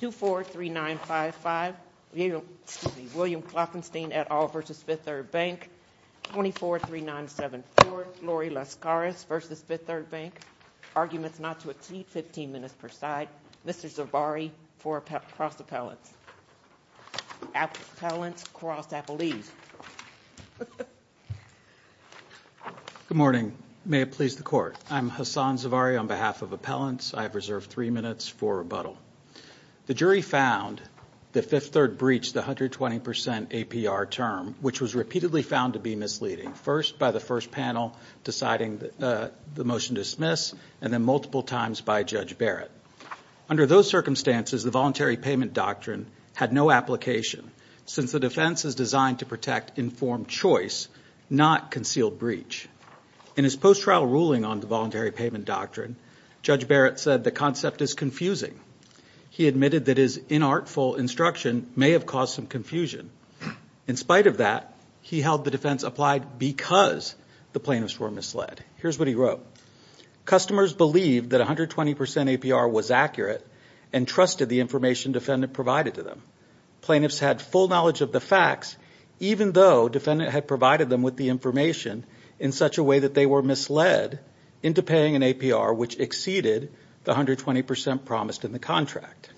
243955 William Klopfenstein et al versus Fifth Third Bank 243974 Lori Lascaris versus Fifth Third Bank Arguments not to exceed 15 minutes per side Mr. Zavarri for cross appellants Appellants cross appellees. Good morning may it please the court I'm Hassan Zavarri on behalf of appellants I have reserved three minutes for rebuttal. The jury found the fifth third breach the 120% APR term which was repeatedly found to be misleading first by the first panel deciding the motion dismiss and then multiple times by Judge Barrett. Under those circumstances the voluntary payment doctrine had no application since the defense is designed to protect informed choice not concealed breach. In his post trial ruling on the voluntary payment doctrine Judge Barrett said the concept is confusing. He admitted that his inartful instruction may have caused some confusion. In spite of that he held the defense applied because the plaintiffs were misled. Here's what he wrote. Customers believed that 120% APR was accurate and trusted the information defendant provided to them. Plaintiffs had full knowledge of the facts even though defendant had provided them with the information in such a way that they were misled into paying an APR which exceeded the 120% promised in the contract.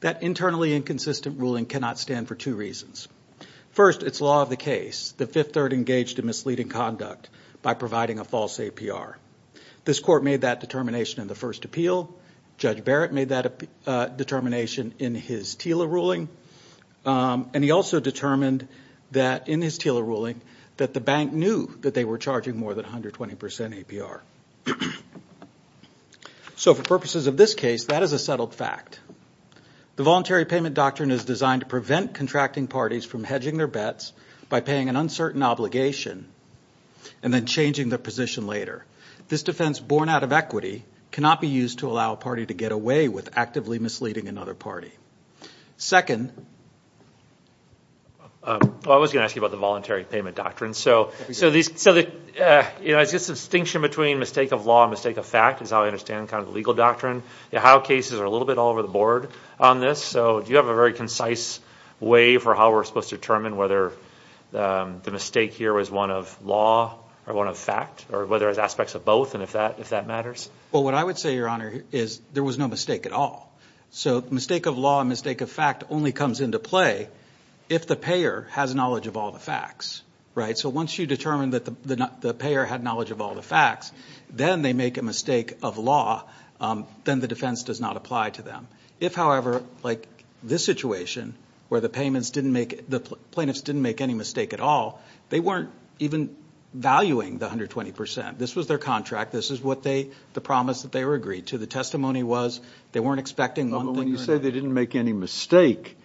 That internally inconsistent ruling cannot stand for two reasons. First it's law of the case. The fifth third engaged in misleading conduct by providing a false APR. This court made that determination in the first appeal. Judge Barrett made that determination in his TILA ruling and he also determined that in his TILA ruling that the bank knew that they were charging more than 120% APR. So for purposes of this case that is a settled fact. The voluntary payment doctrine is designed to prevent contracting parties from hedging their bets by paying an uncertain obligation and then changing their position later. This defense born out of equity cannot be used to allow a party to get away with actively misleading another party. Second, I was gonna ask you about the voluntary payment doctrine. So these so that you know it's just a distinction between mistake of law and mistake of fact is how I understand kind of legal doctrine. How cases are a little bit all over the board on this so do you have a very concise way for how we're supposed to determine whether the mistake here was one of law or one of fact or whether it's aspects of both and if that if that all so mistake of law and mistake of fact only comes into play if the payer has knowledge of all the facts right so once you determine that the not the payer had knowledge of all the facts then they make a mistake of law then the defense does not apply to them if however like this situation where the payments didn't make the plaintiffs didn't make any mistake at all they weren't even valuing the hundred twenty percent this was their contract this is what they the promise that they were agreed to the testimony was they weren't expecting when you say they didn't make any mistake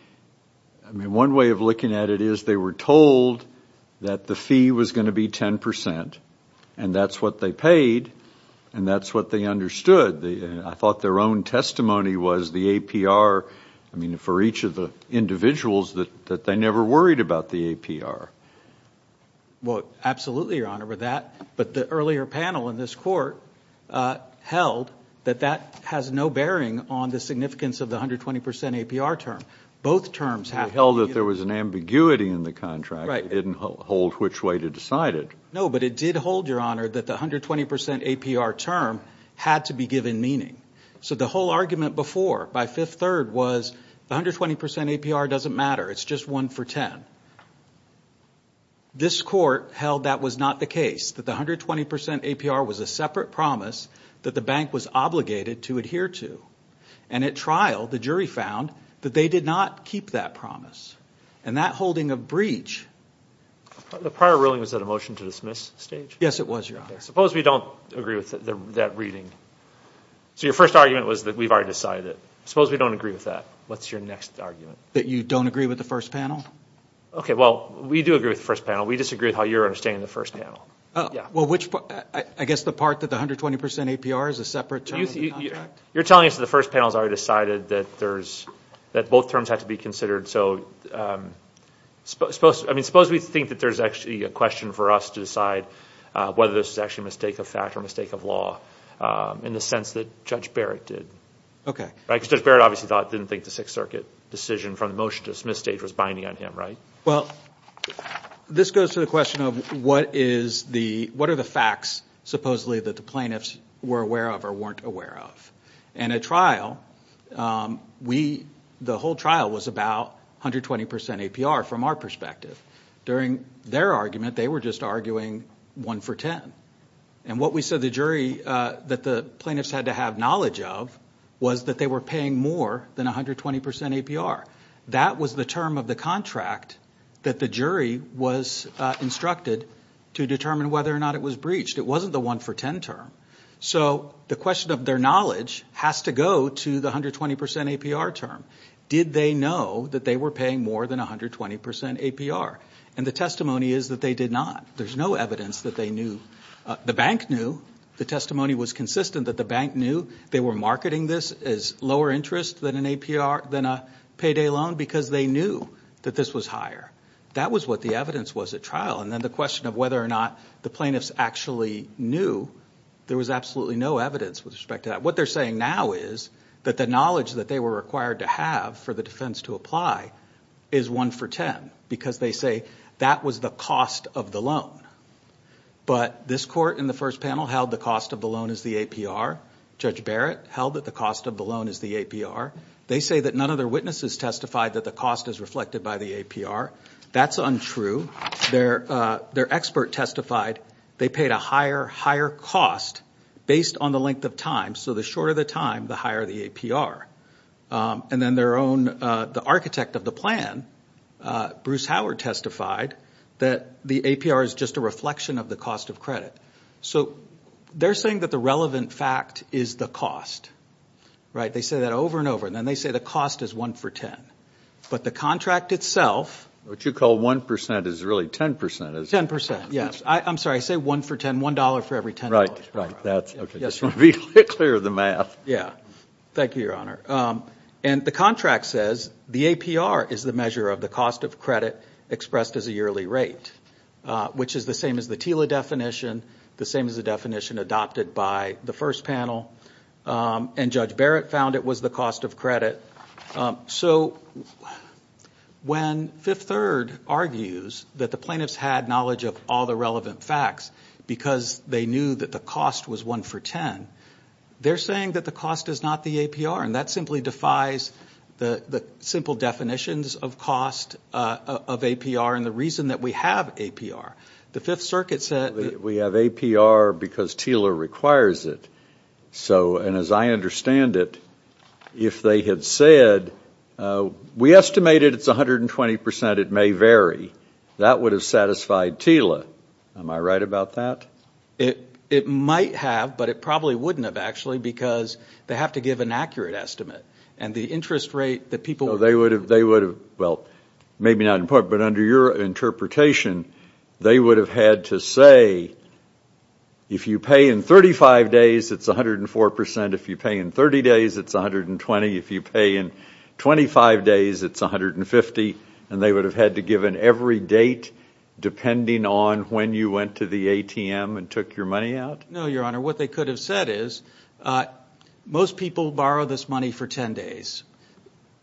one way of looking at it is they were told that the fee was going to be ten percent and that's what they paid and that's what they understood the I thought their own testimony was the APR I mean for each of the individuals that that they never worried about the well absolutely your honor with that but the earlier panel in this court held that that has no bearing on the significance of the hundred twenty percent APR term both terms have held that there was an ambiguity in the contract I didn't hold which way to decide it no but it did hold your honor that the hundred twenty percent APR term had to be given meaning so the whole argument before by fifth third was 120 percent APR doesn't matter it's just one for 10 this court held that was not the case that the hundred twenty percent APR was a separate promise that the bank was obligated to adhere to and at trial the jury found that they did not keep that promise and that holding a breach the prior ruling was that a motion to dismiss stage yes it was your suppose we don't agree with that reading so your first argument was that we've already decided suppose we don't agree with that what's your next argument that you don't agree with the first panel okay well we do agree with the first panel we disagree with how you're understanding the first panel well which I guess the part that the hundred twenty percent APR is a separate you're telling us the first panel's already decided that there's that both terms have to be considered so suppose I mean suppose we think that there's actually a question for us to decide whether this is actually a mistake of fact or mistake of law in the sense that judge Barrett did okay right judge Barrett obviously didn't think the Sixth Circuit decision from the motion to dismiss stage was binding on him right well this goes to the question of what is the what are the facts supposedly that the plaintiffs were aware of or weren't aware of and a trial we the whole trial was about hundred twenty percent APR from our perspective during their argument they were just arguing one for ten and what we said the jury that the plaintiffs had to have knowledge of was that they were paying more than a hundred twenty percent APR that was the term of the contract that the jury was instructed to determine whether or not it was breached it wasn't the one for ten term so the question of their knowledge has to go to the hundred twenty percent APR term did they know that they were paying more than a hundred twenty percent APR and the testimony is that they did not there's no evidence that they knew the bank knew the testimony was consistent that the bank knew they were marketing this as lower interest than an APR than a payday loan because they knew that this was higher that was what the evidence was at trial and then the question of whether or not the plaintiffs actually knew there was absolutely no evidence with respect to that what they're saying now is that the knowledge that they were required to have for the defense to apply is one for ten because they say that was the cost of the loan but this court in the first panel held the cost of the loan is the APR judge Barrett held that the cost of the loan is the APR they say that none of their witnesses testified that the cost is reflected by the APR that's untrue they're their expert testified they paid a higher higher cost based on the length of time so the shorter the time the higher the APR and then their own the architect of the plan Bruce Howard testified that the APR is just a reflection of the cost of credit so they're saying that the relevant fact is the cost right they say that over and over and then they say the cost is one for ten but the contract itself what you call 1% is really 10% is 10% yes I'm sorry I say one for ten one dollar for every ten right right that's okay yes clear the math yeah thank you your honor and the contract says the APR is the measure of the cost of credit expressed as a yearly rate which is the same as the Tila definition the same as the definition adopted by the first panel and judge Barrett found it was the cost of credit so when fifth third argues that the plaintiffs had knowledge of all the relevant facts because they knew that the cost was one for ten they're saying that the cost is not the APR and that simply defies the simple definitions of cost of APR and the reason that we have APR the Fifth Circuit said we have APR because Tila requires it so and as I understand it if they had said we estimated it's a hundred and twenty percent it may vary that would have satisfied Tila am I about that it it might have but it probably wouldn't have actually because they have to give an accurate estimate and the interest rate that people they would have they would have well maybe not important but under your interpretation they would have had to say if you pay in 35 days it's 104% if you pay in 30 days it's 120 if you pay in 25 days it's 150 and they would have had to give an every date depending on when you went to the ATM and took your money out no your honor what they could have said is most people borrow this money for 10 days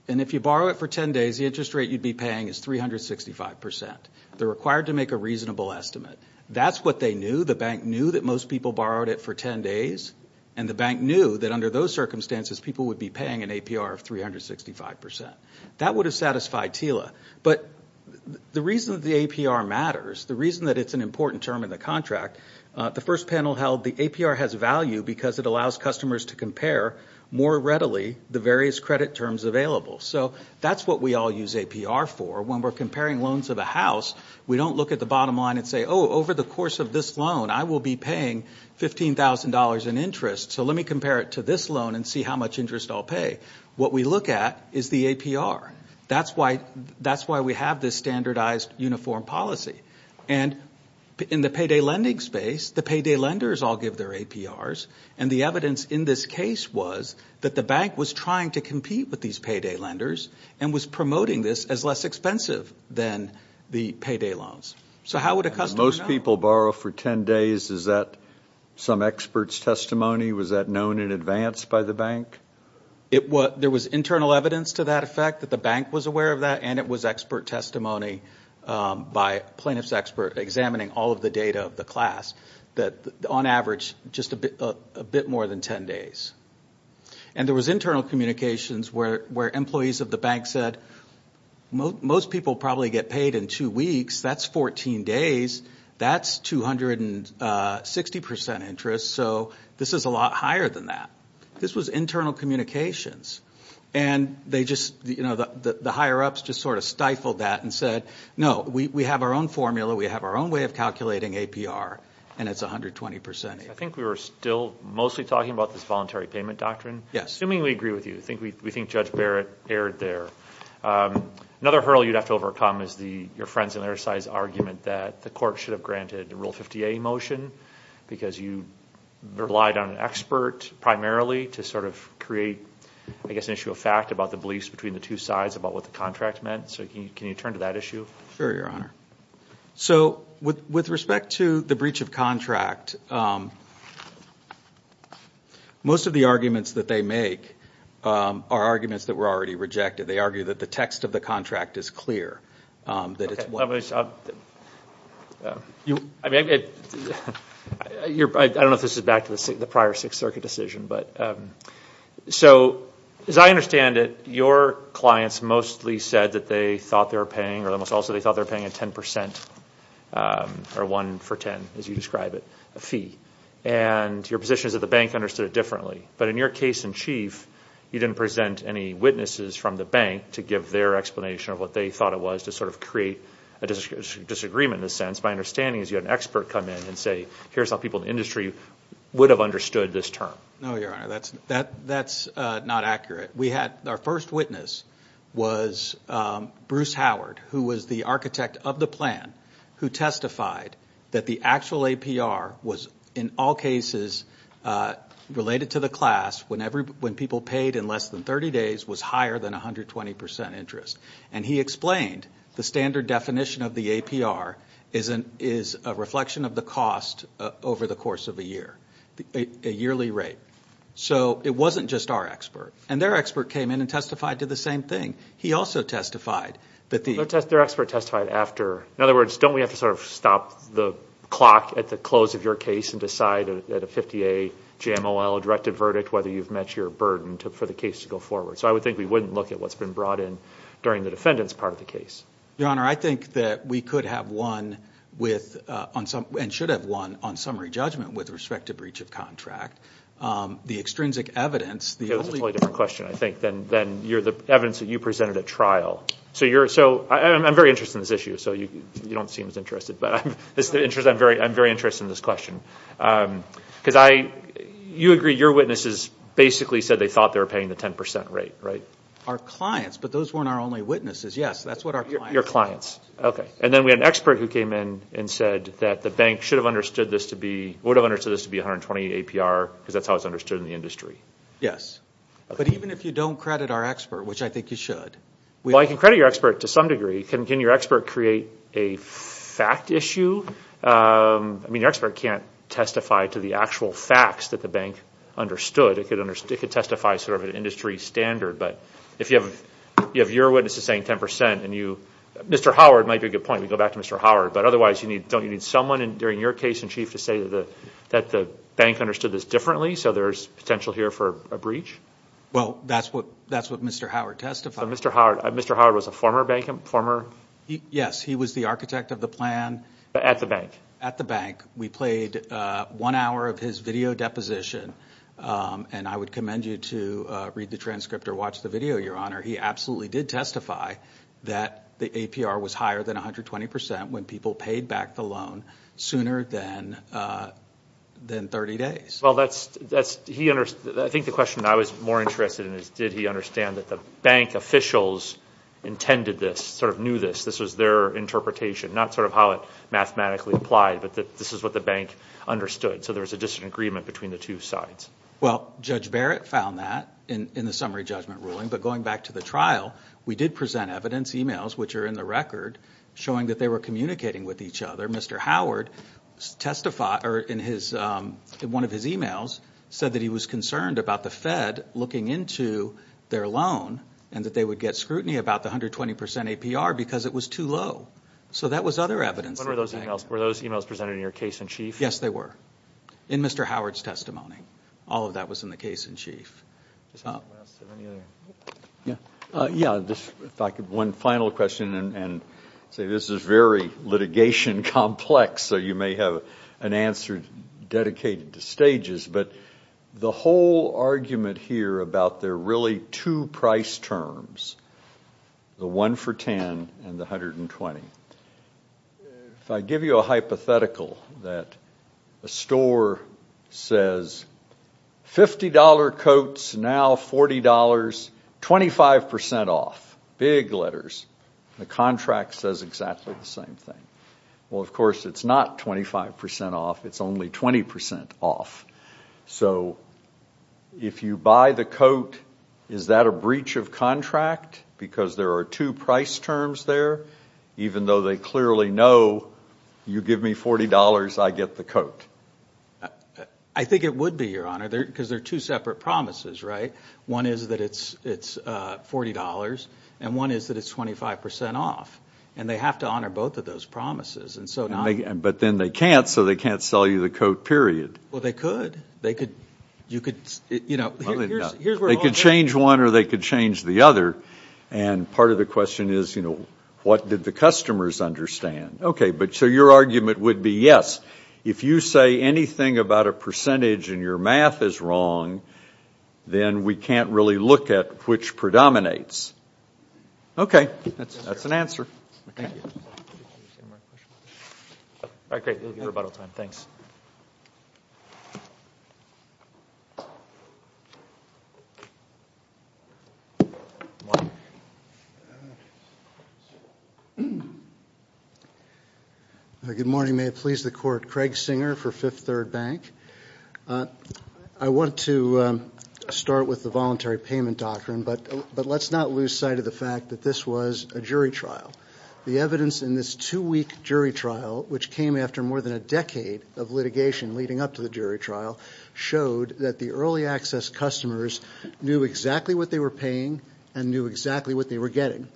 and if you borrow it for 10 days the interest rate you'd be paying is 365 percent they're required to make a reasonable estimate that's what they knew the bank knew that most people borrowed it for 10 days and the bank knew that under those circumstances people would be paying an APR of 365 percent that would have satisfied Tila but the reason the APR matters the reason that it's an important term in the contract the first panel held the APR has value because it allows customers to compare more readily the various credit terms available so that's what we all use APR for when we're comparing loans of a house we don't look at the bottom line and say oh over the course of this loan I will be paying fifteen thousand dollars in interest so let me compare it to this loan and see how much interest I'll pay what we look at is the APR that's why that's why we have this standardized uniform policy and in the payday lending space the payday lenders all give their APRs and the evidence in this case was that the bank was trying to compete with these payday lenders and was promoting this as less expensive than the payday loans so how would a customer most people borrow for 10 days is that some experts testimony was that known in advance by the bank it was there was internal evidence to that effect that the bank was aware of that and it was expert testimony by plaintiffs expert examining all of the data of the class that on average just a bit a bit more than 10 days and there was internal communications where where employees of the bank said most people probably get two weeks that's 14 days that's 260% interest so this is a lot higher than that this was internal communications and they just you know that the higher ups just sort of stifled that and said no we have our own formula we have our own way of calculating APR and it's a hundred twenty percent I think we were still mostly talking about this voluntary payment doctrine yes I mean we agree with you think we think judge Barrett aired there another hurdle you'd have to overcome is the your friends and their size argument that the court should have granted the rule 50 a motion because you relied on an expert primarily to sort of create I guess an issue of fact about the beliefs between the two sides about what the contract meant so you can you turn to that issue sir your honor so with with respect to the breach of contract most of the arguments that they make are arguments that were already rejected they argue that the text of the contract is clear that it's what I mean I don't know if this is back to the prior Sixth Circuit decision but so as I understand it your clients mostly said that they thought they were paying or almost also they thought they're paying a 10% or 1 for 10 as you describe it a fee and your position is that the bank understood it differently but in your case in chief you didn't present any witnesses from the bank to give their explanation of what they thought it was to sort of create a disagreement in a sense my understanding is you had an expert come in and say here's how people in the industry would have understood this term no your honor that's that that's not accurate we had our first witness was Bruce Howard who was the architect of the plan who testified that the actual APR was in all cases related to the class when every when people paid in less than 30 days was higher than a hundred twenty percent interest and he explained the standard definition of the APR isn't is a reflection of the cost over the course of a year a yearly rate so it wasn't just our expert and their expert came in and testified to the same thing he also testified that the test their expert testified after in other words don't we have to sort of stop the clock at the close of your case and decide at a 50 a GMOL directed verdict whether you've met your burden took for the case to go forward so I would think we wouldn't look at what's been brought in during the defendants part of the case your honor I think that we could have won with on some and should have won on summary judgment with respect to breach of contract the extrinsic evidence the only question I think then then you're the evidence that you presented a trial so you're so I'm very interested in this issue so you you don't seem as interested but I'm this because I you agree your witnesses basically said they thought they were paying the 10% rate right our clients but those weren't our only witnesses yes that's what our your clients okay and then we had an expert who came in and said that the bank should have understood this to be would have understood this to be 120 APR because that's how it's understood in the industry yes but even if you don't credit our expert which I think you should well I can credit your expert to some degree can your expert create a fact issue I mean your expert can't testify to the actual facts that the bank understood it could under stick it testify sort of an industry standard but if you have you have your witnesses saying 10% and you mr. Howard might be a good point we go back to mr. Howard but otherwise you need don't you need someone in during your case in chief to say that the that the bank understood this differently so there's potential here for a breach well that's what that's what mr. Howard testified mr. Howard mr. Howard was a former bank him former yes he was the architect of the plan at the bank at the bank we played one hour of his video deposition and I would commend you to read the transcript or watch the video your honor he absolutely did testify that the APR was higher than 120% when people paid back the loan sooner than than 30 days well that's that's he understood I think the question I was more interested in is did he understand that the bank officials intended this sort of knew this this was their interpretation not sort of how it mathematically applied but that this is what the bank understood so there was a disagreement between the two sides well judge Barrett found that in the summary judgment ruling but going back to the trial we did present evidence emails which are in the record showing that they were communicating with each other mr. Howard testified or in his one of emails said that he was concerned about the Fed looking into their loan and that they would get scrutiny about the hundred twenty percent APR because it was too low so that was other evidence those emails were those emails presented in your case-in-chief yes they were in mr. Howard's testimony all of that was in the case-in-chief yeah yeah this one final question and say this is very litigation complex so you may have an answer dedicated to stages but the whole argument here about there really two price terms the one for ten and the hundred and twenty if I give you a hypothetical that a store says fifty dollar coats now forty dollars twenty five percent off big letters the contract says exactly the same thing well of course it's not 25% off it's only 20% off so if you buy the coat is that a breach of contract because there are two price terms there even though they clearly know you give me forty dollars I get the coat I think it would be your honor there because they're two separate promises right one is that it's it's forty dollars and one is that it's twenty five percent off and they have to honor both of those promises and so now they can but then they can't so they can't sell you the coat period well they could they could you could you know they could change one or they could change the other and part of the question is you know what did the customers understand okay but so your argument would be yes if you say anything about a percentage and your math is wrong then we can't really look at which predominates okay that's that's an answer good morning may it please the court Craig Singer for Fifth Third Bank I want to start with the voluntary payment doctrine but but let's not lose sight of the fact that this was a jury trial the evidence in this two-week jury trial which came after more than a decade of litigation leading up to the jury trial showed that the early access customers knew exactly what they were paying and knew exactly what they were getting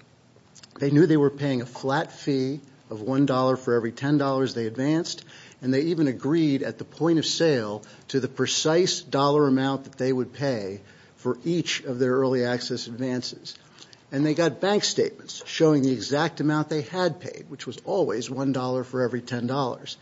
they knew they were paying a flat fee of one dollar for every ten dollars they advanced and they even agreed at the point-of-sale to the precise dollar amount that they would pay for each of their early access advances and they got bank statements showing the exact amount they had paid which was always one dollar for every ten dollars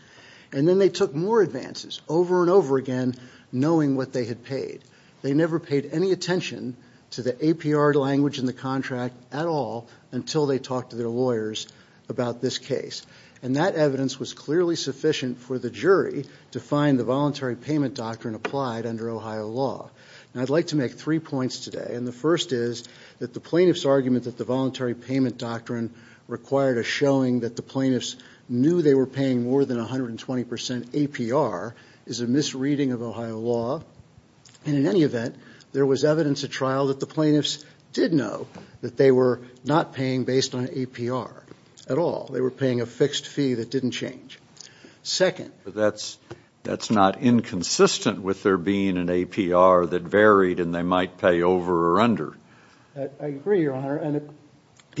and then they took more advances over and over again knowing what they had paid they never paid any attention to the APR language in the contract at all until they talked to their lawyers about this case and that evidence was clearly sufficient for the jury to find the voluntary payment doctrine applied under Ohio law and I'd like to make three points today and the first is that the plaintiffs argument that the voluntary payment doctrine required a showing that the plaintiffs knew they were paying more than a hundred and twenty percent APR is a misreading of Ohio law and in any event there was evidence a trial that the plaintiffs did know that they were not paying based on APR at all they were paying a fixed fee that didn't change second that's that's not inconsistent with there being an APR that varied and they might pay over or under the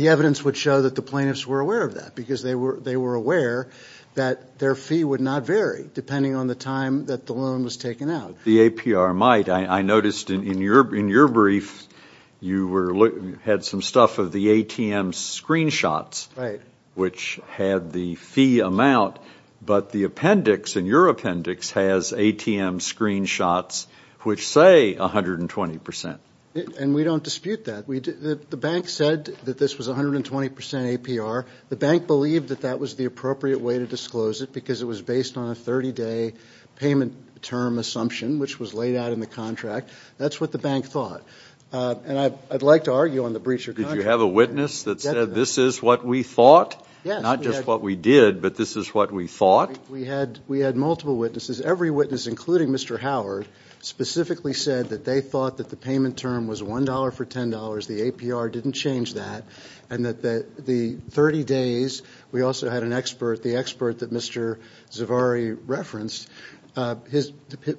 evidence would show that the plaintiffs were aware of that because they were they were aware that their fee would not vary depending on the time that the loan was taken out the APR might I noticed in your in your brief you were looking at some stuff of the ATM screenshots right which had the fee amount but the appendix in your appendix has ATM screenshots which say a hundred and twenty percent and we don't dispute that we did that the bank said that this was a hundred and twenty percent APR the bank believed that that was the appropriate way to disclose it because it was based on a 30-day payment term assumption which was laid out in the contract that's what the bank thought and I'd like to argue on the breacher did you have a witness that said this is what we thought yeah not just what we did but this is what we thought we had we had multiple witnesses every witness including mr. Howard specifically said that they thought that the payment term was $1 for $10 the APR didn't change that and that the 30 days we also had an expert the expert that referenced his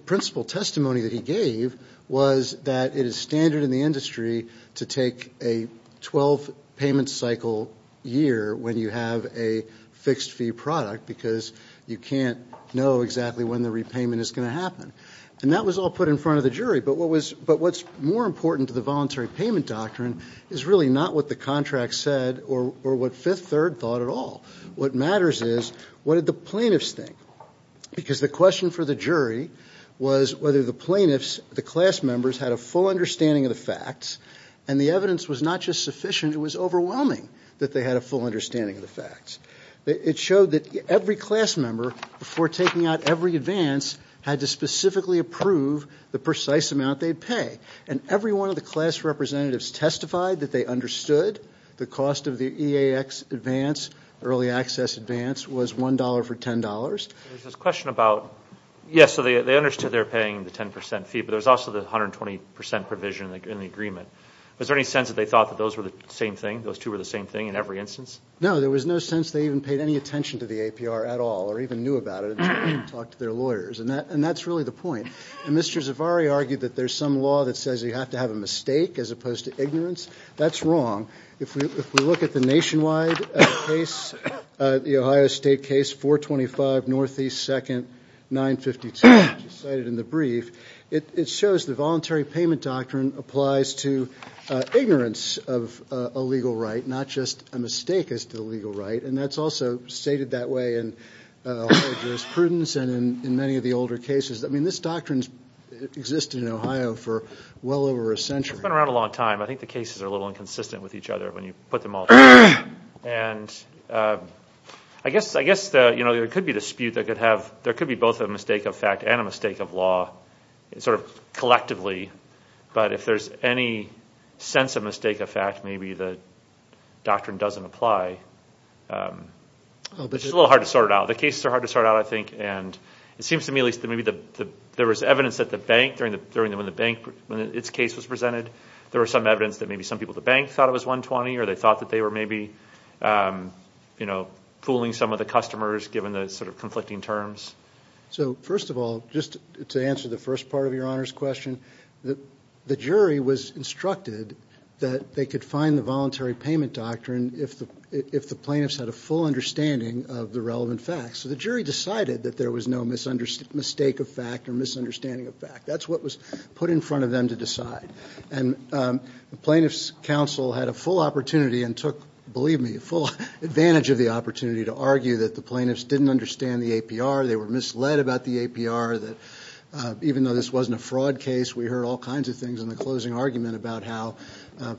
principal testimony that he gave was that it is standard in the industry to take a 12 payment cycle year when you have a fixed fee product because you can't know exactly when the repayment is going to happen and that was all put in front of the jury but what was but what's more important to the voluntary payment doctrine is really not what the contract said or or what 5th 3rd thought at all what matters is what did the plaintiffs think because the question for the jury was whether the plaintiffs the class members had a full understanding of the facts and the evidence was not just sufficient it was overwhelming that they had a full understanding of the facts it showed that every class member before taking out every advance had to specifically approve the precise amount they'd pay and every one of the class testified that they understood the cost of the EAX advance early access advance was $1 for $10 this question about yes so they understood they're paying the 10% fee but there's also the 120% provision in the agreement was there any sense that they thought that those were the same thing those two were the same thing in every instance no there was no sense they even paid any attention to the APR at all or even knew about it and talked to their lawyers and that and that's really the point and mr. Zavarri argued that there's some law that says you have to have a mistake as opposed to ignorance that's wrong if we look at the nationwide case the Ohio State case 425 Northeast second 952 cited in the brief it shows the voluntary payment doctrine applies to ignorance of a legal right not just a mistake as to the legal right and that's also stated that way in jurisprudence and in many of the older cases I mean this doctrines existed in for well over a century been around a long time I think the cases are a little inconsistent with each other when you put them all and I guess I guess the you know there could be dispute that could have there could be both a mistake of fact and a mistake of law it's sort of collectively but if there's any sense of mistake of fact maybe the doctrine doesn't apply which is a little hard to sort it out the cases are hard to start out I think and it seems to me at least that maybe the there was evidence that the bank during the during the when the bank when its case was presented there were some evidence that maybe some people the bank thought it was 120 or they thought that they were maybe you know fooling some of the customers given the sort of conflicting terms so first of all just to answer the first part of your honors question that the jury was instructed that they could find the voluntary payment doctrine if the if the plaintiffs had a full understanding of the relevant facts so the jury decided that there was no misunderstanding mistake of fact or misunderstanding of fact that's what was put in front of them to decide and the plaintiffs counsel had a full opportunity and took believe me a full advantage of the opportunity to argue that the plaintiffs didn't understand the APR they were misled about the APR that even though this wasn't a fraud case we heard all kinds of things in the closing argument about how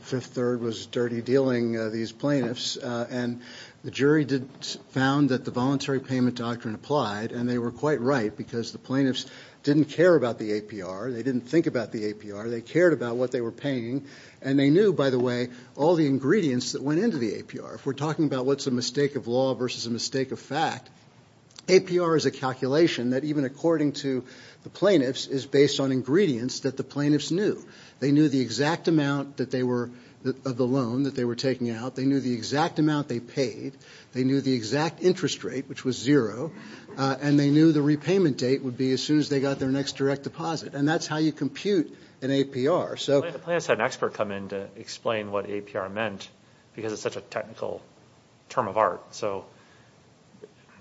fifth third was dirty dealing these plaintiffs and the jury did found that the voluntary payment doctrine applied and they were quite right because the plaintiffs didn't care about the APR they didn't think about the APR they cared about what they were paying and they knew by the way all the ingredients that went into the APR if we're talking about what's a mistake of law versus a mistake of fact APR is a calculation that even according to the plaintiffs is based on ingredients that the plaintiffs knew they knew the exact amount that they were of the loan that they were taking out they knew the exact amount they paid they knew the exact interest rate which was zero and they knew the repayment date would be as soon as they got their next direct deposit and that's how you compute an APR so an expert come in to explain what APR meant because it's such a technical term of art so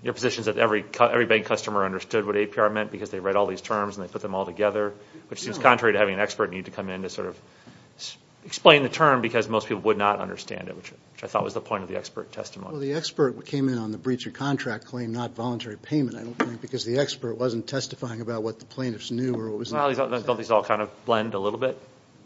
your positions that every every bank customer understood what APR meant because they read all these terms and they put them all together which seems contrary to having an expert need to come in to sort of explain the term because most people would not understand it which I thought was the point of the expert testimony the expert what came in on the breach of contract claim not voluntary payment I don't think because the expert wasn't testifying about what the plaintiffs knew or what was all these all kind of blend a little bit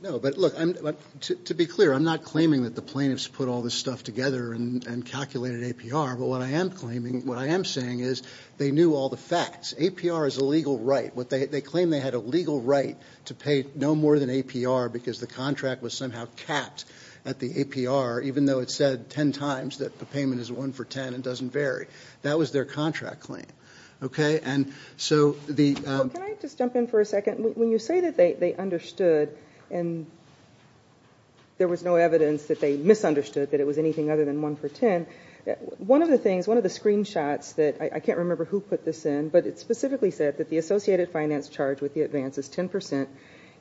no but look I'm to be clear I'm not claiming that the plaintiffs put all this stuff together and calculated APR but what I am claiming what I am saying is they knew all the facts APR is a legal right what they claim they had a legal right to pay no more than APR because the contract was somehow capped at the APR even though it said ten times that the payment is one for ten and doesn't vary that was their contract claim okay and so the just jump in for a second when you say that they understood and there was no evidence that they misunderstood that it was anything other than one for ten one of the things one of the screenshots that I can't remember who put this in but it specifically said that the associated finance charge with the advance is 10%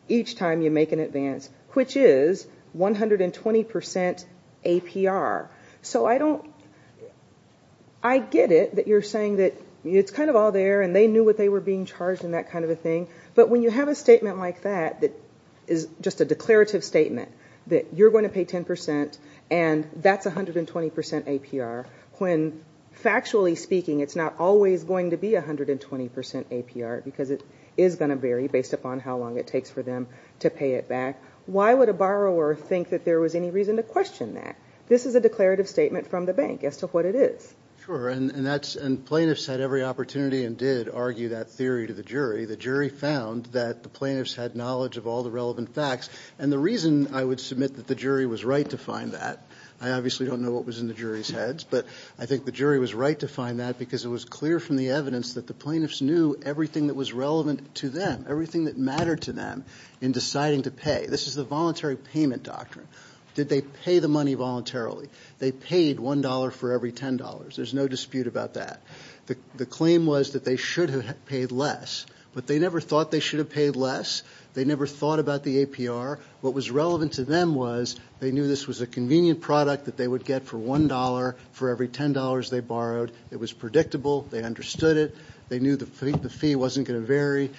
each time you make an advance which is 120% APR so I don't I get it that you're saying that it's kind of all there and they knew what they were being charged in that kind of a thing but when you have a statement like that that is just a declarative statement that you're going to pay ten percent and that's a hundred and twenty percent APR when factually speaking it's not always going to be a hundred and twenty percent APR because it is going to vary based upon how long it takes for them to pay it back why would a borrower think that there was any reason to question that this is a declarative statement from the bank as to what it is sure and that's and plaintiffs had every opportunity and did argue that theory to the jury the jury found that the plaintiffs had knowledge of all the relevant facts and the reason I would submit that the jury was right to find that I obviously don't know what was in the jury's heads but I think the jury was right to find that because it was clear from the evidence that the plaintiffs knew everything that was relevant to them everything that mattered to them in deciding to pay this is the voluntary payment doctrine did they pay the money voluntarily they paid one dollar for every ten dollars there's no dispute about that the claim was that they should have paid less but they never thought they should have paid less they never thought about the APR what was relevant to them was they knew this was a convenient product that they would get for one dollar for every ten dollars they borrowed it was predictable they understood it they knew the fee wasn't going to vary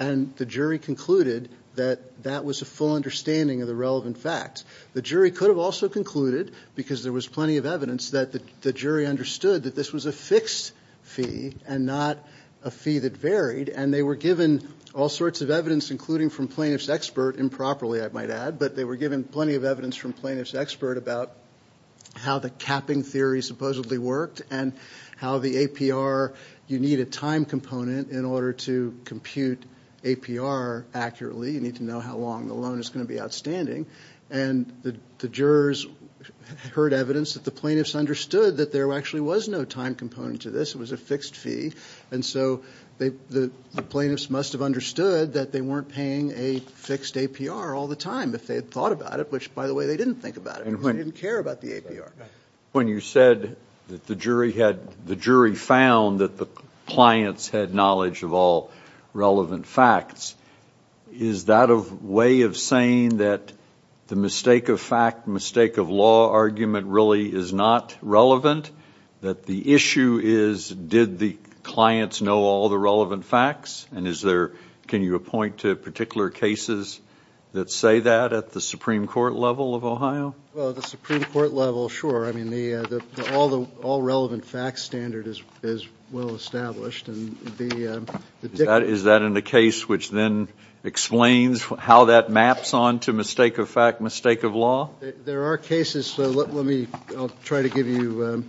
and the jury concluded that that was a full understanding of the relevant facts the jury could have also concluded because there was plenty of evidence that the jury understood that this was a fixed fee and not a fee that varied and they were given all sorts of evidence including from plaintiffs expert improperly I might add but they were given plenty of evidence from plaintiffs expert about how the capping theory supposedly worked and how the APR you need a time component in order to compute APR accurately you need to know how long the loan is going to be outstanding and the jurors heard evidence that the plaintiffs understood that there actually was no time component to this it was a fixed fee and so they the plaintiffs must have understood that they weren't paying a fixed APR all the time if they had thought about it which by the way they didn't care about the APR when you said that the jury had the jury found that the clients had knowledge of all relevant facts is that a way of saying that the mistake of fact mistake of law argument really is not relevant that the issue is did the clients know all the relevant facts and is there can you point to particular cases that say that at the Supreme Court level of Ohio Supreme Court level sure I mean the all the all relevant facts standard is well established and is that in the case which then explains how that maps on to mistake of fact mistake of law there are cases so let me try to give you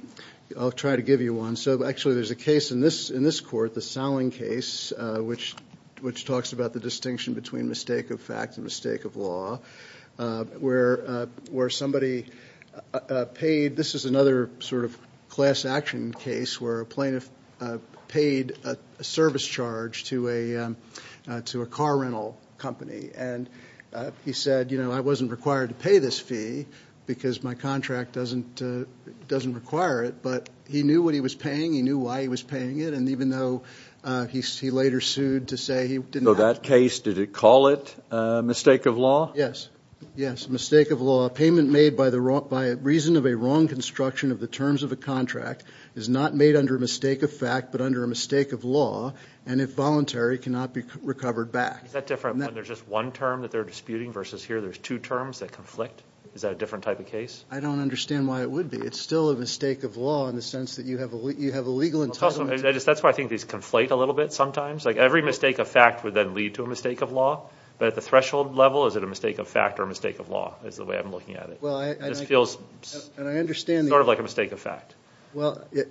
I'll try to give you one so actually there's a case in this in this court the selling case which which talks about the distinction between mistake of fact mistake of law where where somebody paid this is another sort of class action case where a plaintiff paid a service charge to a to a car rental company and he said you know I wasn't required to pay this fee because my contract doesn't doesn't require it but he knew what he was paying he knew why he was paying it and even though he later sued to say he didn't know that case did it call it mistake of law yes yes mistake of law payment made by the wrong by a reason of a wrong construction of the terms of a contract is not made under mistake of fact but under a mistake of law and if voluntary cannot be recovered back that different there's just one term that they're disputing versus here there's two terms that conflict is that a different type of case I don't understand why it would be it's still a mistake of law in the sense that you have you have a legal entitlement that's why I think these conflate a little bit sometimes like every mistake of fact would then lead to a mistake of law but at the threshold level is it a mistake of fact or a mistake of law is the way I'm looking at it well I just feels and I understand sort of like a mistake of fact well yeah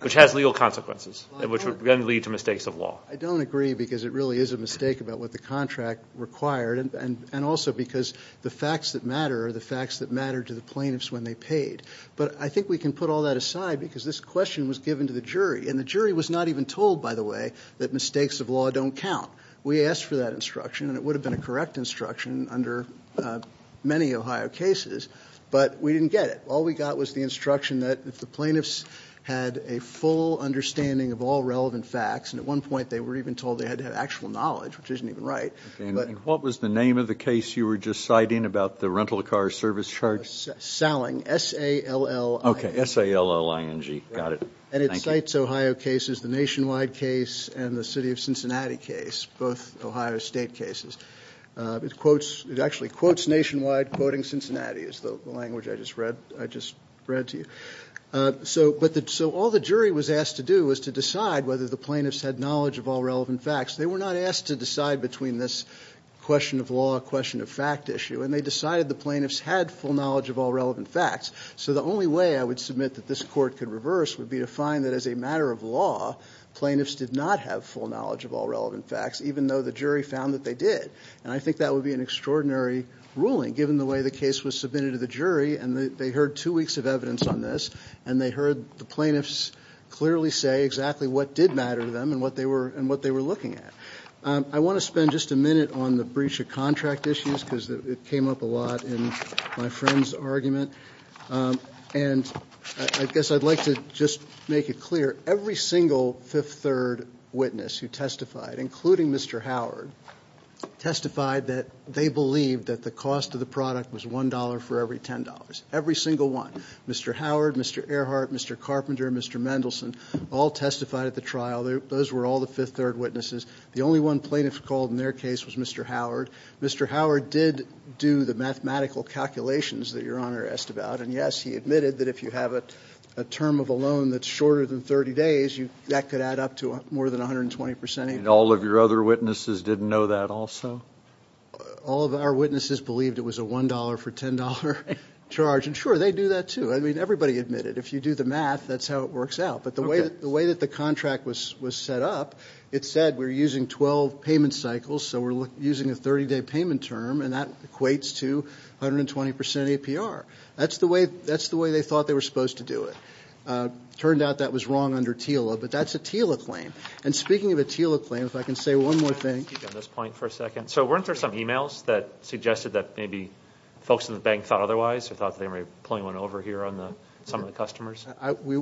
which has legal consequences and which would lead to mistakes of law I don't agree because it really is a mistake about what the contract required and and and also because the facts that matter are the facts that matter to the plaintiffs when they paid but I think we can put all that aside because this question was given to the jury and the jury was not even told by the way that mistakes of law don't count we asked for that instruction and it would have been a correct instruction under many Ohio cases but we didn't get it all we got was the instruction that if the plaintiffs had a full understanding of all relevant facts and at one point they were even told they had to have actual knowledge which isn't even right but what was the name of the case you were just citing about the rental car service charge selling s-a-l-l okay s-a-l-l-i-n-g got it and it cites Ohio cases the nationwide case and the city of Cincinnati case both Ohio State cases it quotes it actually quotes nationwide quoting Cincinnati is the language I just read I just read to you so but that so all the jury was asked to do was to decide whether the plaintiffs had knowledge of all relevant facts they were not asked to decide between this question of law question of fact issue and they decided the plaintiffs had full knowledge of all relevant facts so the only way I would submit that this court could reverse would be to find that as a matter of law plaintiffs did not have full knowledge of all relevant facts even though the jury found that they did and I think that would be an extraordinary ruling given the way the case was submitted to the jury and they heard two weeks of evidence on this and they heard the plaintiffs clearly say exactly what did matter to them and what they were and what they were looking at I want to spend just a minute on the breach of contract issues because it came up a lot in my friend's argument and I guess I'd like to just make it clear every single fifth third witness who testified including mr. Howard testified that they believed that the cost of the product was $1 for every $10 every single one mr. Howard mr. Earhart mr. Carpenter mr. Mendelsohn all testified at the trial there those were all the fifth third witnesses the only one plaintiffs called in their case was mr. Howard mr. Howard did do the mathematical calculations that your honor asked about and yes he admitted that if you have a term of a loan that's shorter than 30 days you that could add up to more than 120% and all of your other witnesses didn't know that also all of our witnesses believed it was a $1 for $10 charge and sure they do that too I mean everybody admitted if you do the math that's how it works out but the way that the way that the was was set up it said we're using 12 payment cycles so we're using a 30-day payment term and that equates to 120% APR that's the way that's the way they thought they were supposed to do it turned out that was wrong under TILA but that's a TILA claim and speaking of a TILA claim if I can say one more thing at this point for a second so weren't there some emails that suggested that maybe folks in the bank thought otherwise or thought they may point one over here on the some of the customers we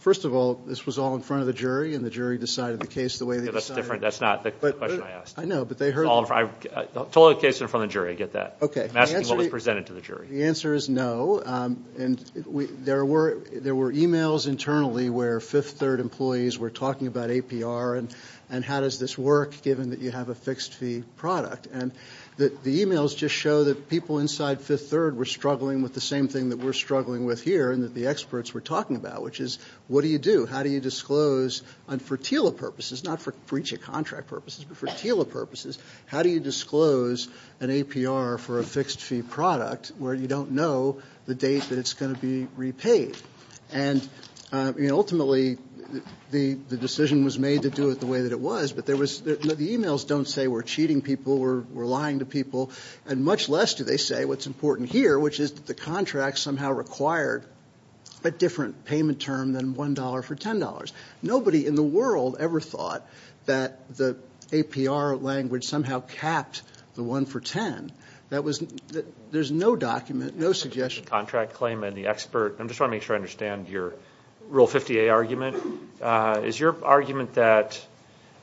first of all this was all in front of the jury and the jury decided the case the way that's different that's not the question I asked I know but they heard all the cases from the jury I get that okay that's what was presented to the jury the answer is no and we there were there were emails internally where fifth third employees were talking about APR and and how does this work given that you have a fixed fee product and that the emails just show that people inside fifth third were struggling with the same thing that we're struggling with here and that the experts were talking about which is what do you do how do you disclose on for TILA purposes not for breach of contract purposes but for TILA purposes how do you disclose an APR for a fixed fee product where you don't know the date that it's going to be repaid and you know ultimately the the decision was made to do it the way that it was but there was the emails don't say we're cheating people we're lying to people and much less do they say what's important here which is that the payment term than $1 for $10 nobody in the world ever thought that the APR language somehow capped the one for ten that was that there's no document no suggestion contract claim and the expert I'm just wanna make sure I understand your rule 50a argument is your argument that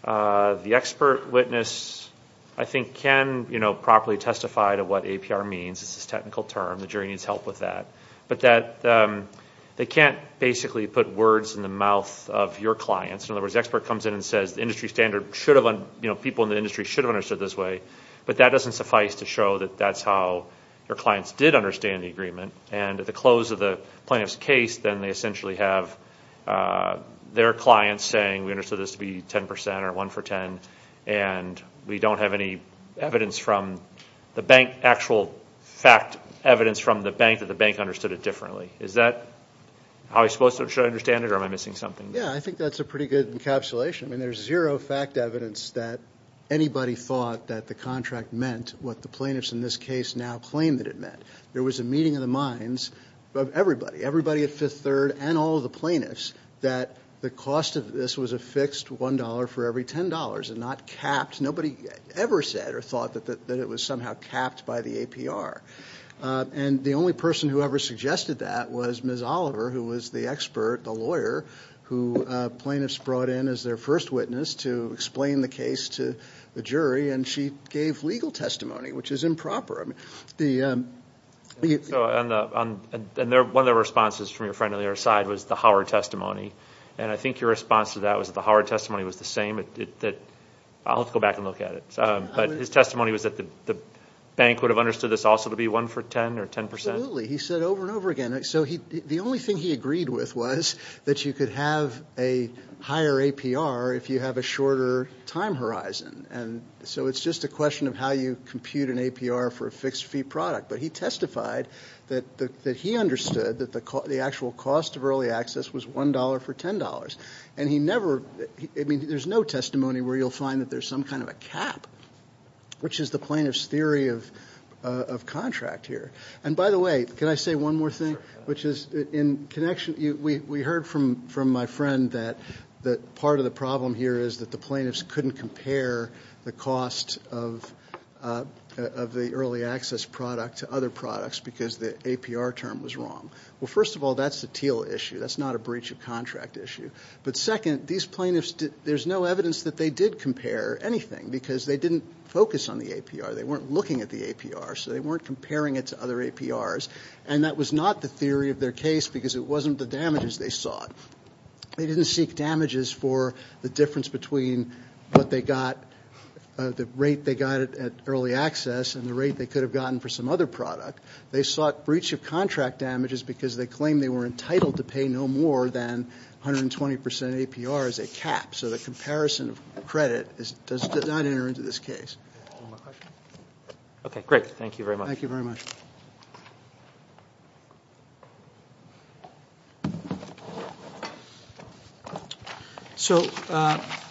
the expert witness I think can you know properly testify to what APR means this is technical term the jury needs help with that but that they can't basically put words in the mouth of your clients in other words expert comes in and says the industry standard should have been you know people in the industry should have understood this way but that doesn't suffice to show that that's how your clients did understand the agreement and at the close of the plaintiff's case then they essentially have their clients saying we understood this to be 10% or 1 for 10 and we don't have any evidence from the bank actual fact evidence from the bank that the bank understood it differently is that how I supposed to understand it or am I missing something yeah I think that's a pretty good encapsulation and there's zero fact evidence that anybody thought that the contract meant what the plaintiffs in this case now claim that it meant there was a meeting of the minds of everybody everybody at Fifth Third and all the plaintiffs that the cost of this was a fixed $1 for every $10 and not capped nobody ever said or thought that that it was somehow capped by the APR and the only person who ever suggested that was Miss Oliver who was the expert the lawyer who plaintiffs brought in as their first witness to explain the case to the jury and she gave legal testimony which is improper I mean the and they're one of the side was the Howard testimony and I think your response to that was the Howard testimony was the same it did that I'll go back and look at it but his testimony was that the bank would have understood this also to be one for 10 or 10 percent he said over and over again so he the only thing he agreed with was that you could have a higher APR if you have a shorter time horizon and so it's just a question of how you compute an APR for a fixed fee product but he testified that he understood that the cost the actual cost of early access was $1 for $10 and he never I mean there's no testimony where you'll find that there's some kind of a cap which is the plaintiffs theory of contract here and by the way can I say one more thing which is in connection we heard from from my friend that that part of the problem here is that the plaintiffs couldn't compare the cost of of the early access product to other products because the APR term was wrong well first of all that's the teal issue that's not a breach of contract issue but second these plaintiffs did there's no evidence that they did compare anything because they didn't focus on the APR they weren't looking at the APR so they weren't comparing it to other APRs and that was not the theory of their case because it wasn't the damages they sought they didn't seek damages for the difference between what they got the rate they got it at early access and the rate they could have gotten for some other product they sought breach of contract damages because they claim they were entitled to pay no more than 120% APR as a cap so the comparison of credit is does not enter into this case okay great thank you very much thank you very much so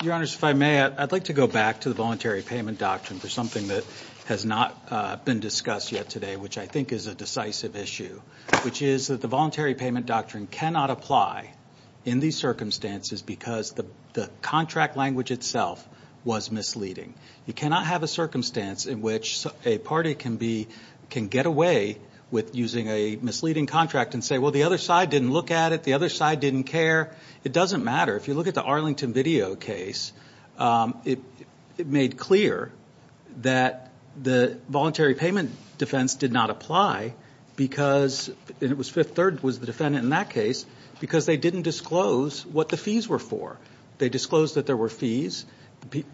your honors if I may I'd like to go back to the voluntary payment doctrine for something that has not been discussed yet today which I think is a decisive issue which is that the voluntary payment doctrine cannot apply in these circumstances because the the contract language itself was misleading you cannot have a circumstance in which a party can be can get away with using a misleading contract and say well the other side didn't look at it the other side didn't care it doesn't matter if you look at the Arlington video case it made clear that the voluntary payment defense did not apply because it was fifth third was the defendant in that case because they didn't disclose what the fees were for they disclosed that there were fees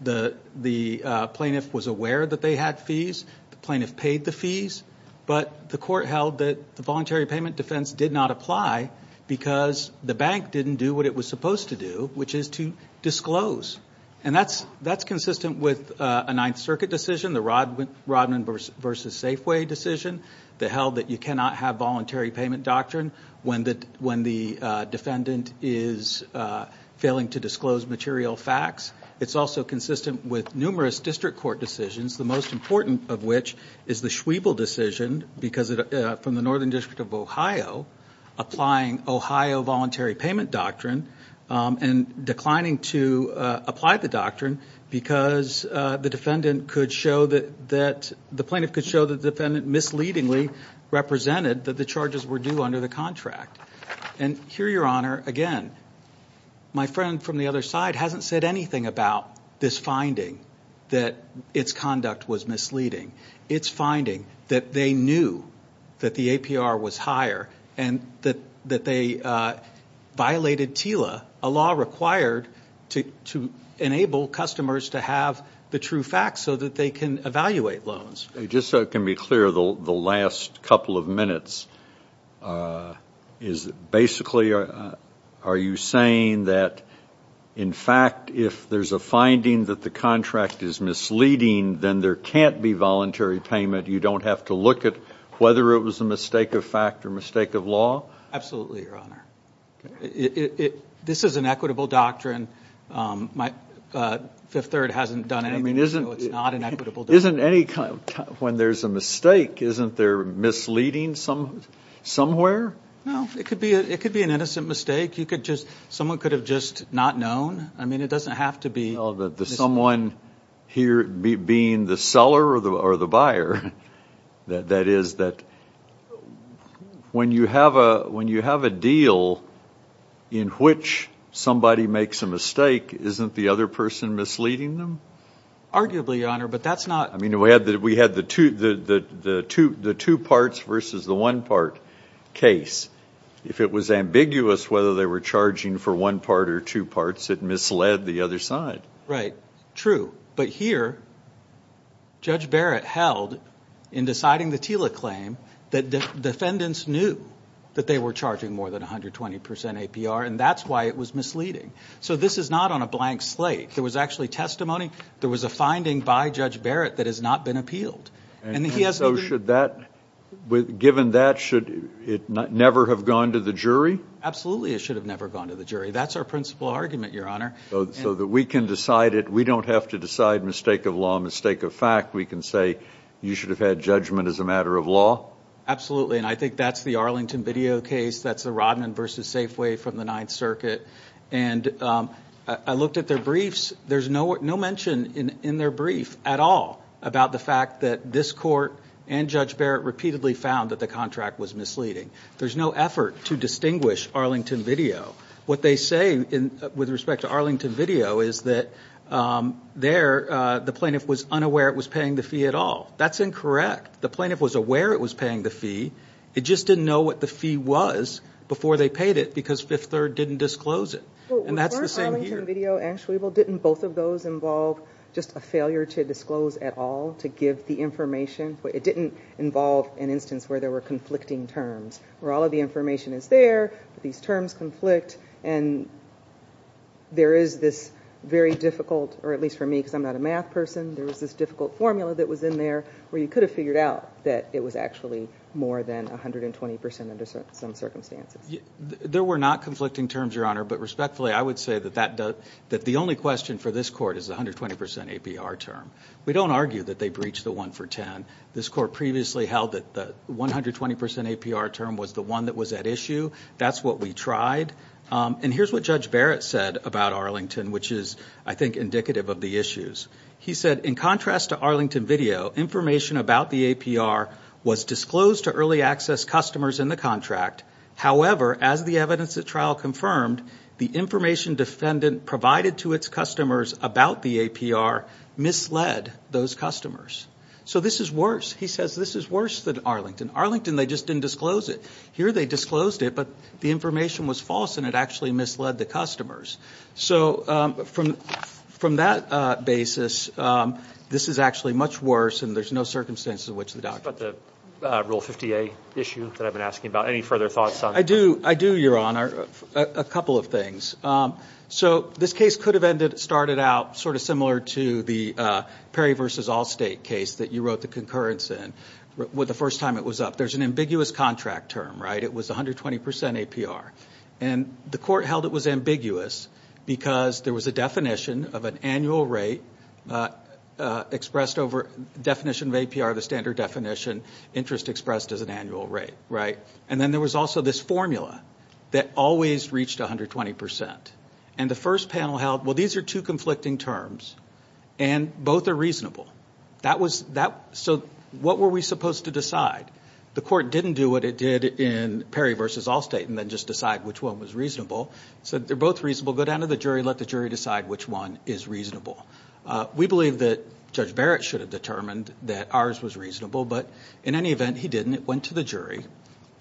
the the plaintiff was aware that they had fees the plaintiff paid the fees but the court held that the voluntary payment defense did not apply because the bank didn't do what it was supposed to do which is to disclose and that's that's consistent with a Ninth Circuit decision the Rodman versus Safeway decision that held that you cannot have voluntary payment doctrine when that when the defendant is failing to disclose material facts it's also consistent with numerous district court decisions the most important of which is the Schwebel decision because it from the Northern District of Ohio applying Ohio voluntary payment doctrine and declining to apply the doctrine because the defendant could show that that the plaintiff could show the defendant misleadingly represented that the charges were due under the contract and here your honor again my friend from the other side hasn't said anything about this finding that its conduct was misleading its finding that they knew that the APR was higher and that that they violated Tila a law required to enable customers to have the true facts so that they can evaluate loans just so it can be clear the last couple of minutes is basically are you saying that in fact if there's a finding that the contract is misleading then there can't be voluntary payment you don't have to look at whether it was a mistake of fact or mistake of law absolutely this is an equitable doctrine my fifth third hasn't done anything isn't it isn't any kind of time when there's a mistake isn't there misleading some somewhere it could be it could be an innocent mistake you could just someone could have just not known I mean it doesn't have to be that the someone here be being the seller or the or the buyer that that is that when you have a when you have a deal in which somebody makes a mistake isn't the other person misleading them arguably honor but that's not I mean we had that we had the two that the two the two parts versus the one part case if it was ambiguous whether they were charging for one part or two parts that misled the other side right true but here judge Barrett held in deciding the Tila claim that the defendants knew that they were charging more than a hundred twenty percent APR and that's why it was misleading so this is not on a blank slate there was actually testimony there was a finding by judge Barrett that has not been appealed and he has no should that with given that should it not never have gone to the jury absolutely it never gone to the jury that's our principle argument your honor so that we can decide it we don't have to decide mistake of law mistake of fact we can say you should have had judgment as a matter of law absolutely and I think that's the Arlington video case that's the Rodman versus Safeway from the Ninth Circuit and I looked at their briefs there's no mention in in their brief at all about the fact that this court and judge Barrett repeatedly found that the contract was misleading there's no effort to distinguish Arlington video what they say in with respect to Arlington video is that there the plaintiff was unaware it was paying the fee at all that's incorrect the plaintiff was aware it was paying the fee it just didn't know what the fee was before they paid it because fifth third didn't disclose it and that's the same video actually well didn't both of those involve just a failure to disclose at all to give the information but it didn't involve an instance where there were conflicting terms where all of the information is there these terms conflict and there is this very difficult or at least for me because I'm not a math person there was this difficult formula that was in there where you could have figured out that it was actually more than a hundred and twenty percent under some circumstances there were not conflicting terms your honor but respectfully I would say that that does that the only question for this court is 120% APR term we don't argue that they breached the one for ten this court previously held that the 120% APR term was the one that was at issue that's what we tried and here's what judge Barrett said about Arlington which is I think indicative of the issues he said in contrast to Arlington video information about the APR was disclosed to early access customers in the contract however as the evidence that trial confirmed the information defendant provided to its customers about the APR misled those customers so this is worse he says this is worse than Arlington Arlington they just didn't disclose it here they disclosed it but the information was false and it actually misled the customers so from from that basis this is actually much worse and there's no circumstances which the doctor but the rule 50 a issue that I've been asking about any further thoughts I do I do your honor a couple of things so this case could have ended started out sort of similar to the Perry versus Allstate case that you wrote the concurrence in with the first time it was up there's an ambiguous contract term right it was 120% APR and the court held it was ambiguous because there was a definition of an annual rate expressed over definition of APR the standard definition interest expressed as an annual rate right and then there was also this formula that always reached 120% and the first panel held well these are two conflicting terms and both are reasonable that was that so what were we supposed to decide the court didn't do what it did in Perry versus Allstate and then just decide which one was reasonable so they're both reasonable go down to the jury let the jury decide which one is reasonable we believe that Judge Barrett should have determined that ours was reasonable but in any event he didn't it went to the jury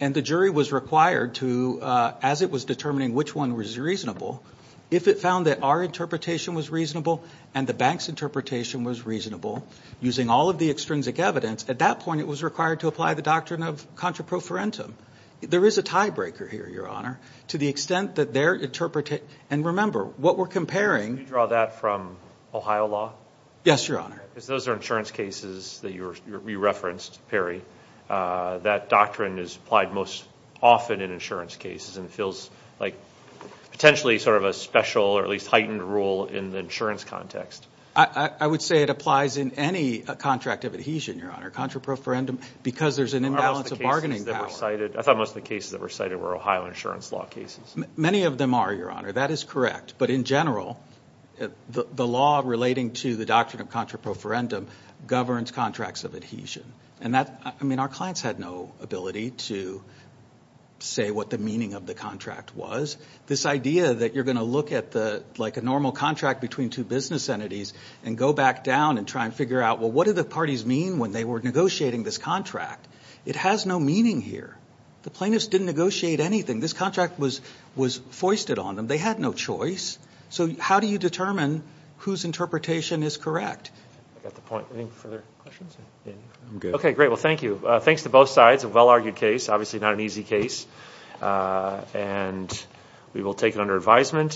and the jury was required to as it was determining which one was reasonable if it found that our interpretation was reasonable and the bank's interpretation was reasonable using all of the extrinsic evidence at that point it was required to apply the doctrine of contra pro for entum there is a tiebreaker here your honor to the extent that they're interpret it and remember what we're comparing draw that from Ohio law yes your honor those are insurance cases that you referenced Perry that doctrine is applied most often in insurance cases and it feels like potentially sort of a special or at least heightened rule in an insurance context I would say it applies in any contract of adhesion your honor contra pro for endom because there's an imbalance of bargaining that were cited I thought most of the cases that were cited were Ohio insurance law cases many of them are your honor that is correct but in general the law relating to the doctrine of contra pro for endom governs contracts of adhesion and that I mean our clients had no ability to say what the meaning of the contract was this idea that you're going to look at the like a normal contract between two business entities and go back down and try and figure out well what do the parties mean when they were negotiating this contract it has no meaning here the plaintiffs didn't negotiate anything this contract was was foisted on them they had no choice so how do you determine whose interpretation is correct okay great well thank you thanks to both sides a well-argued case obviously not an easy case and we will take it under advisement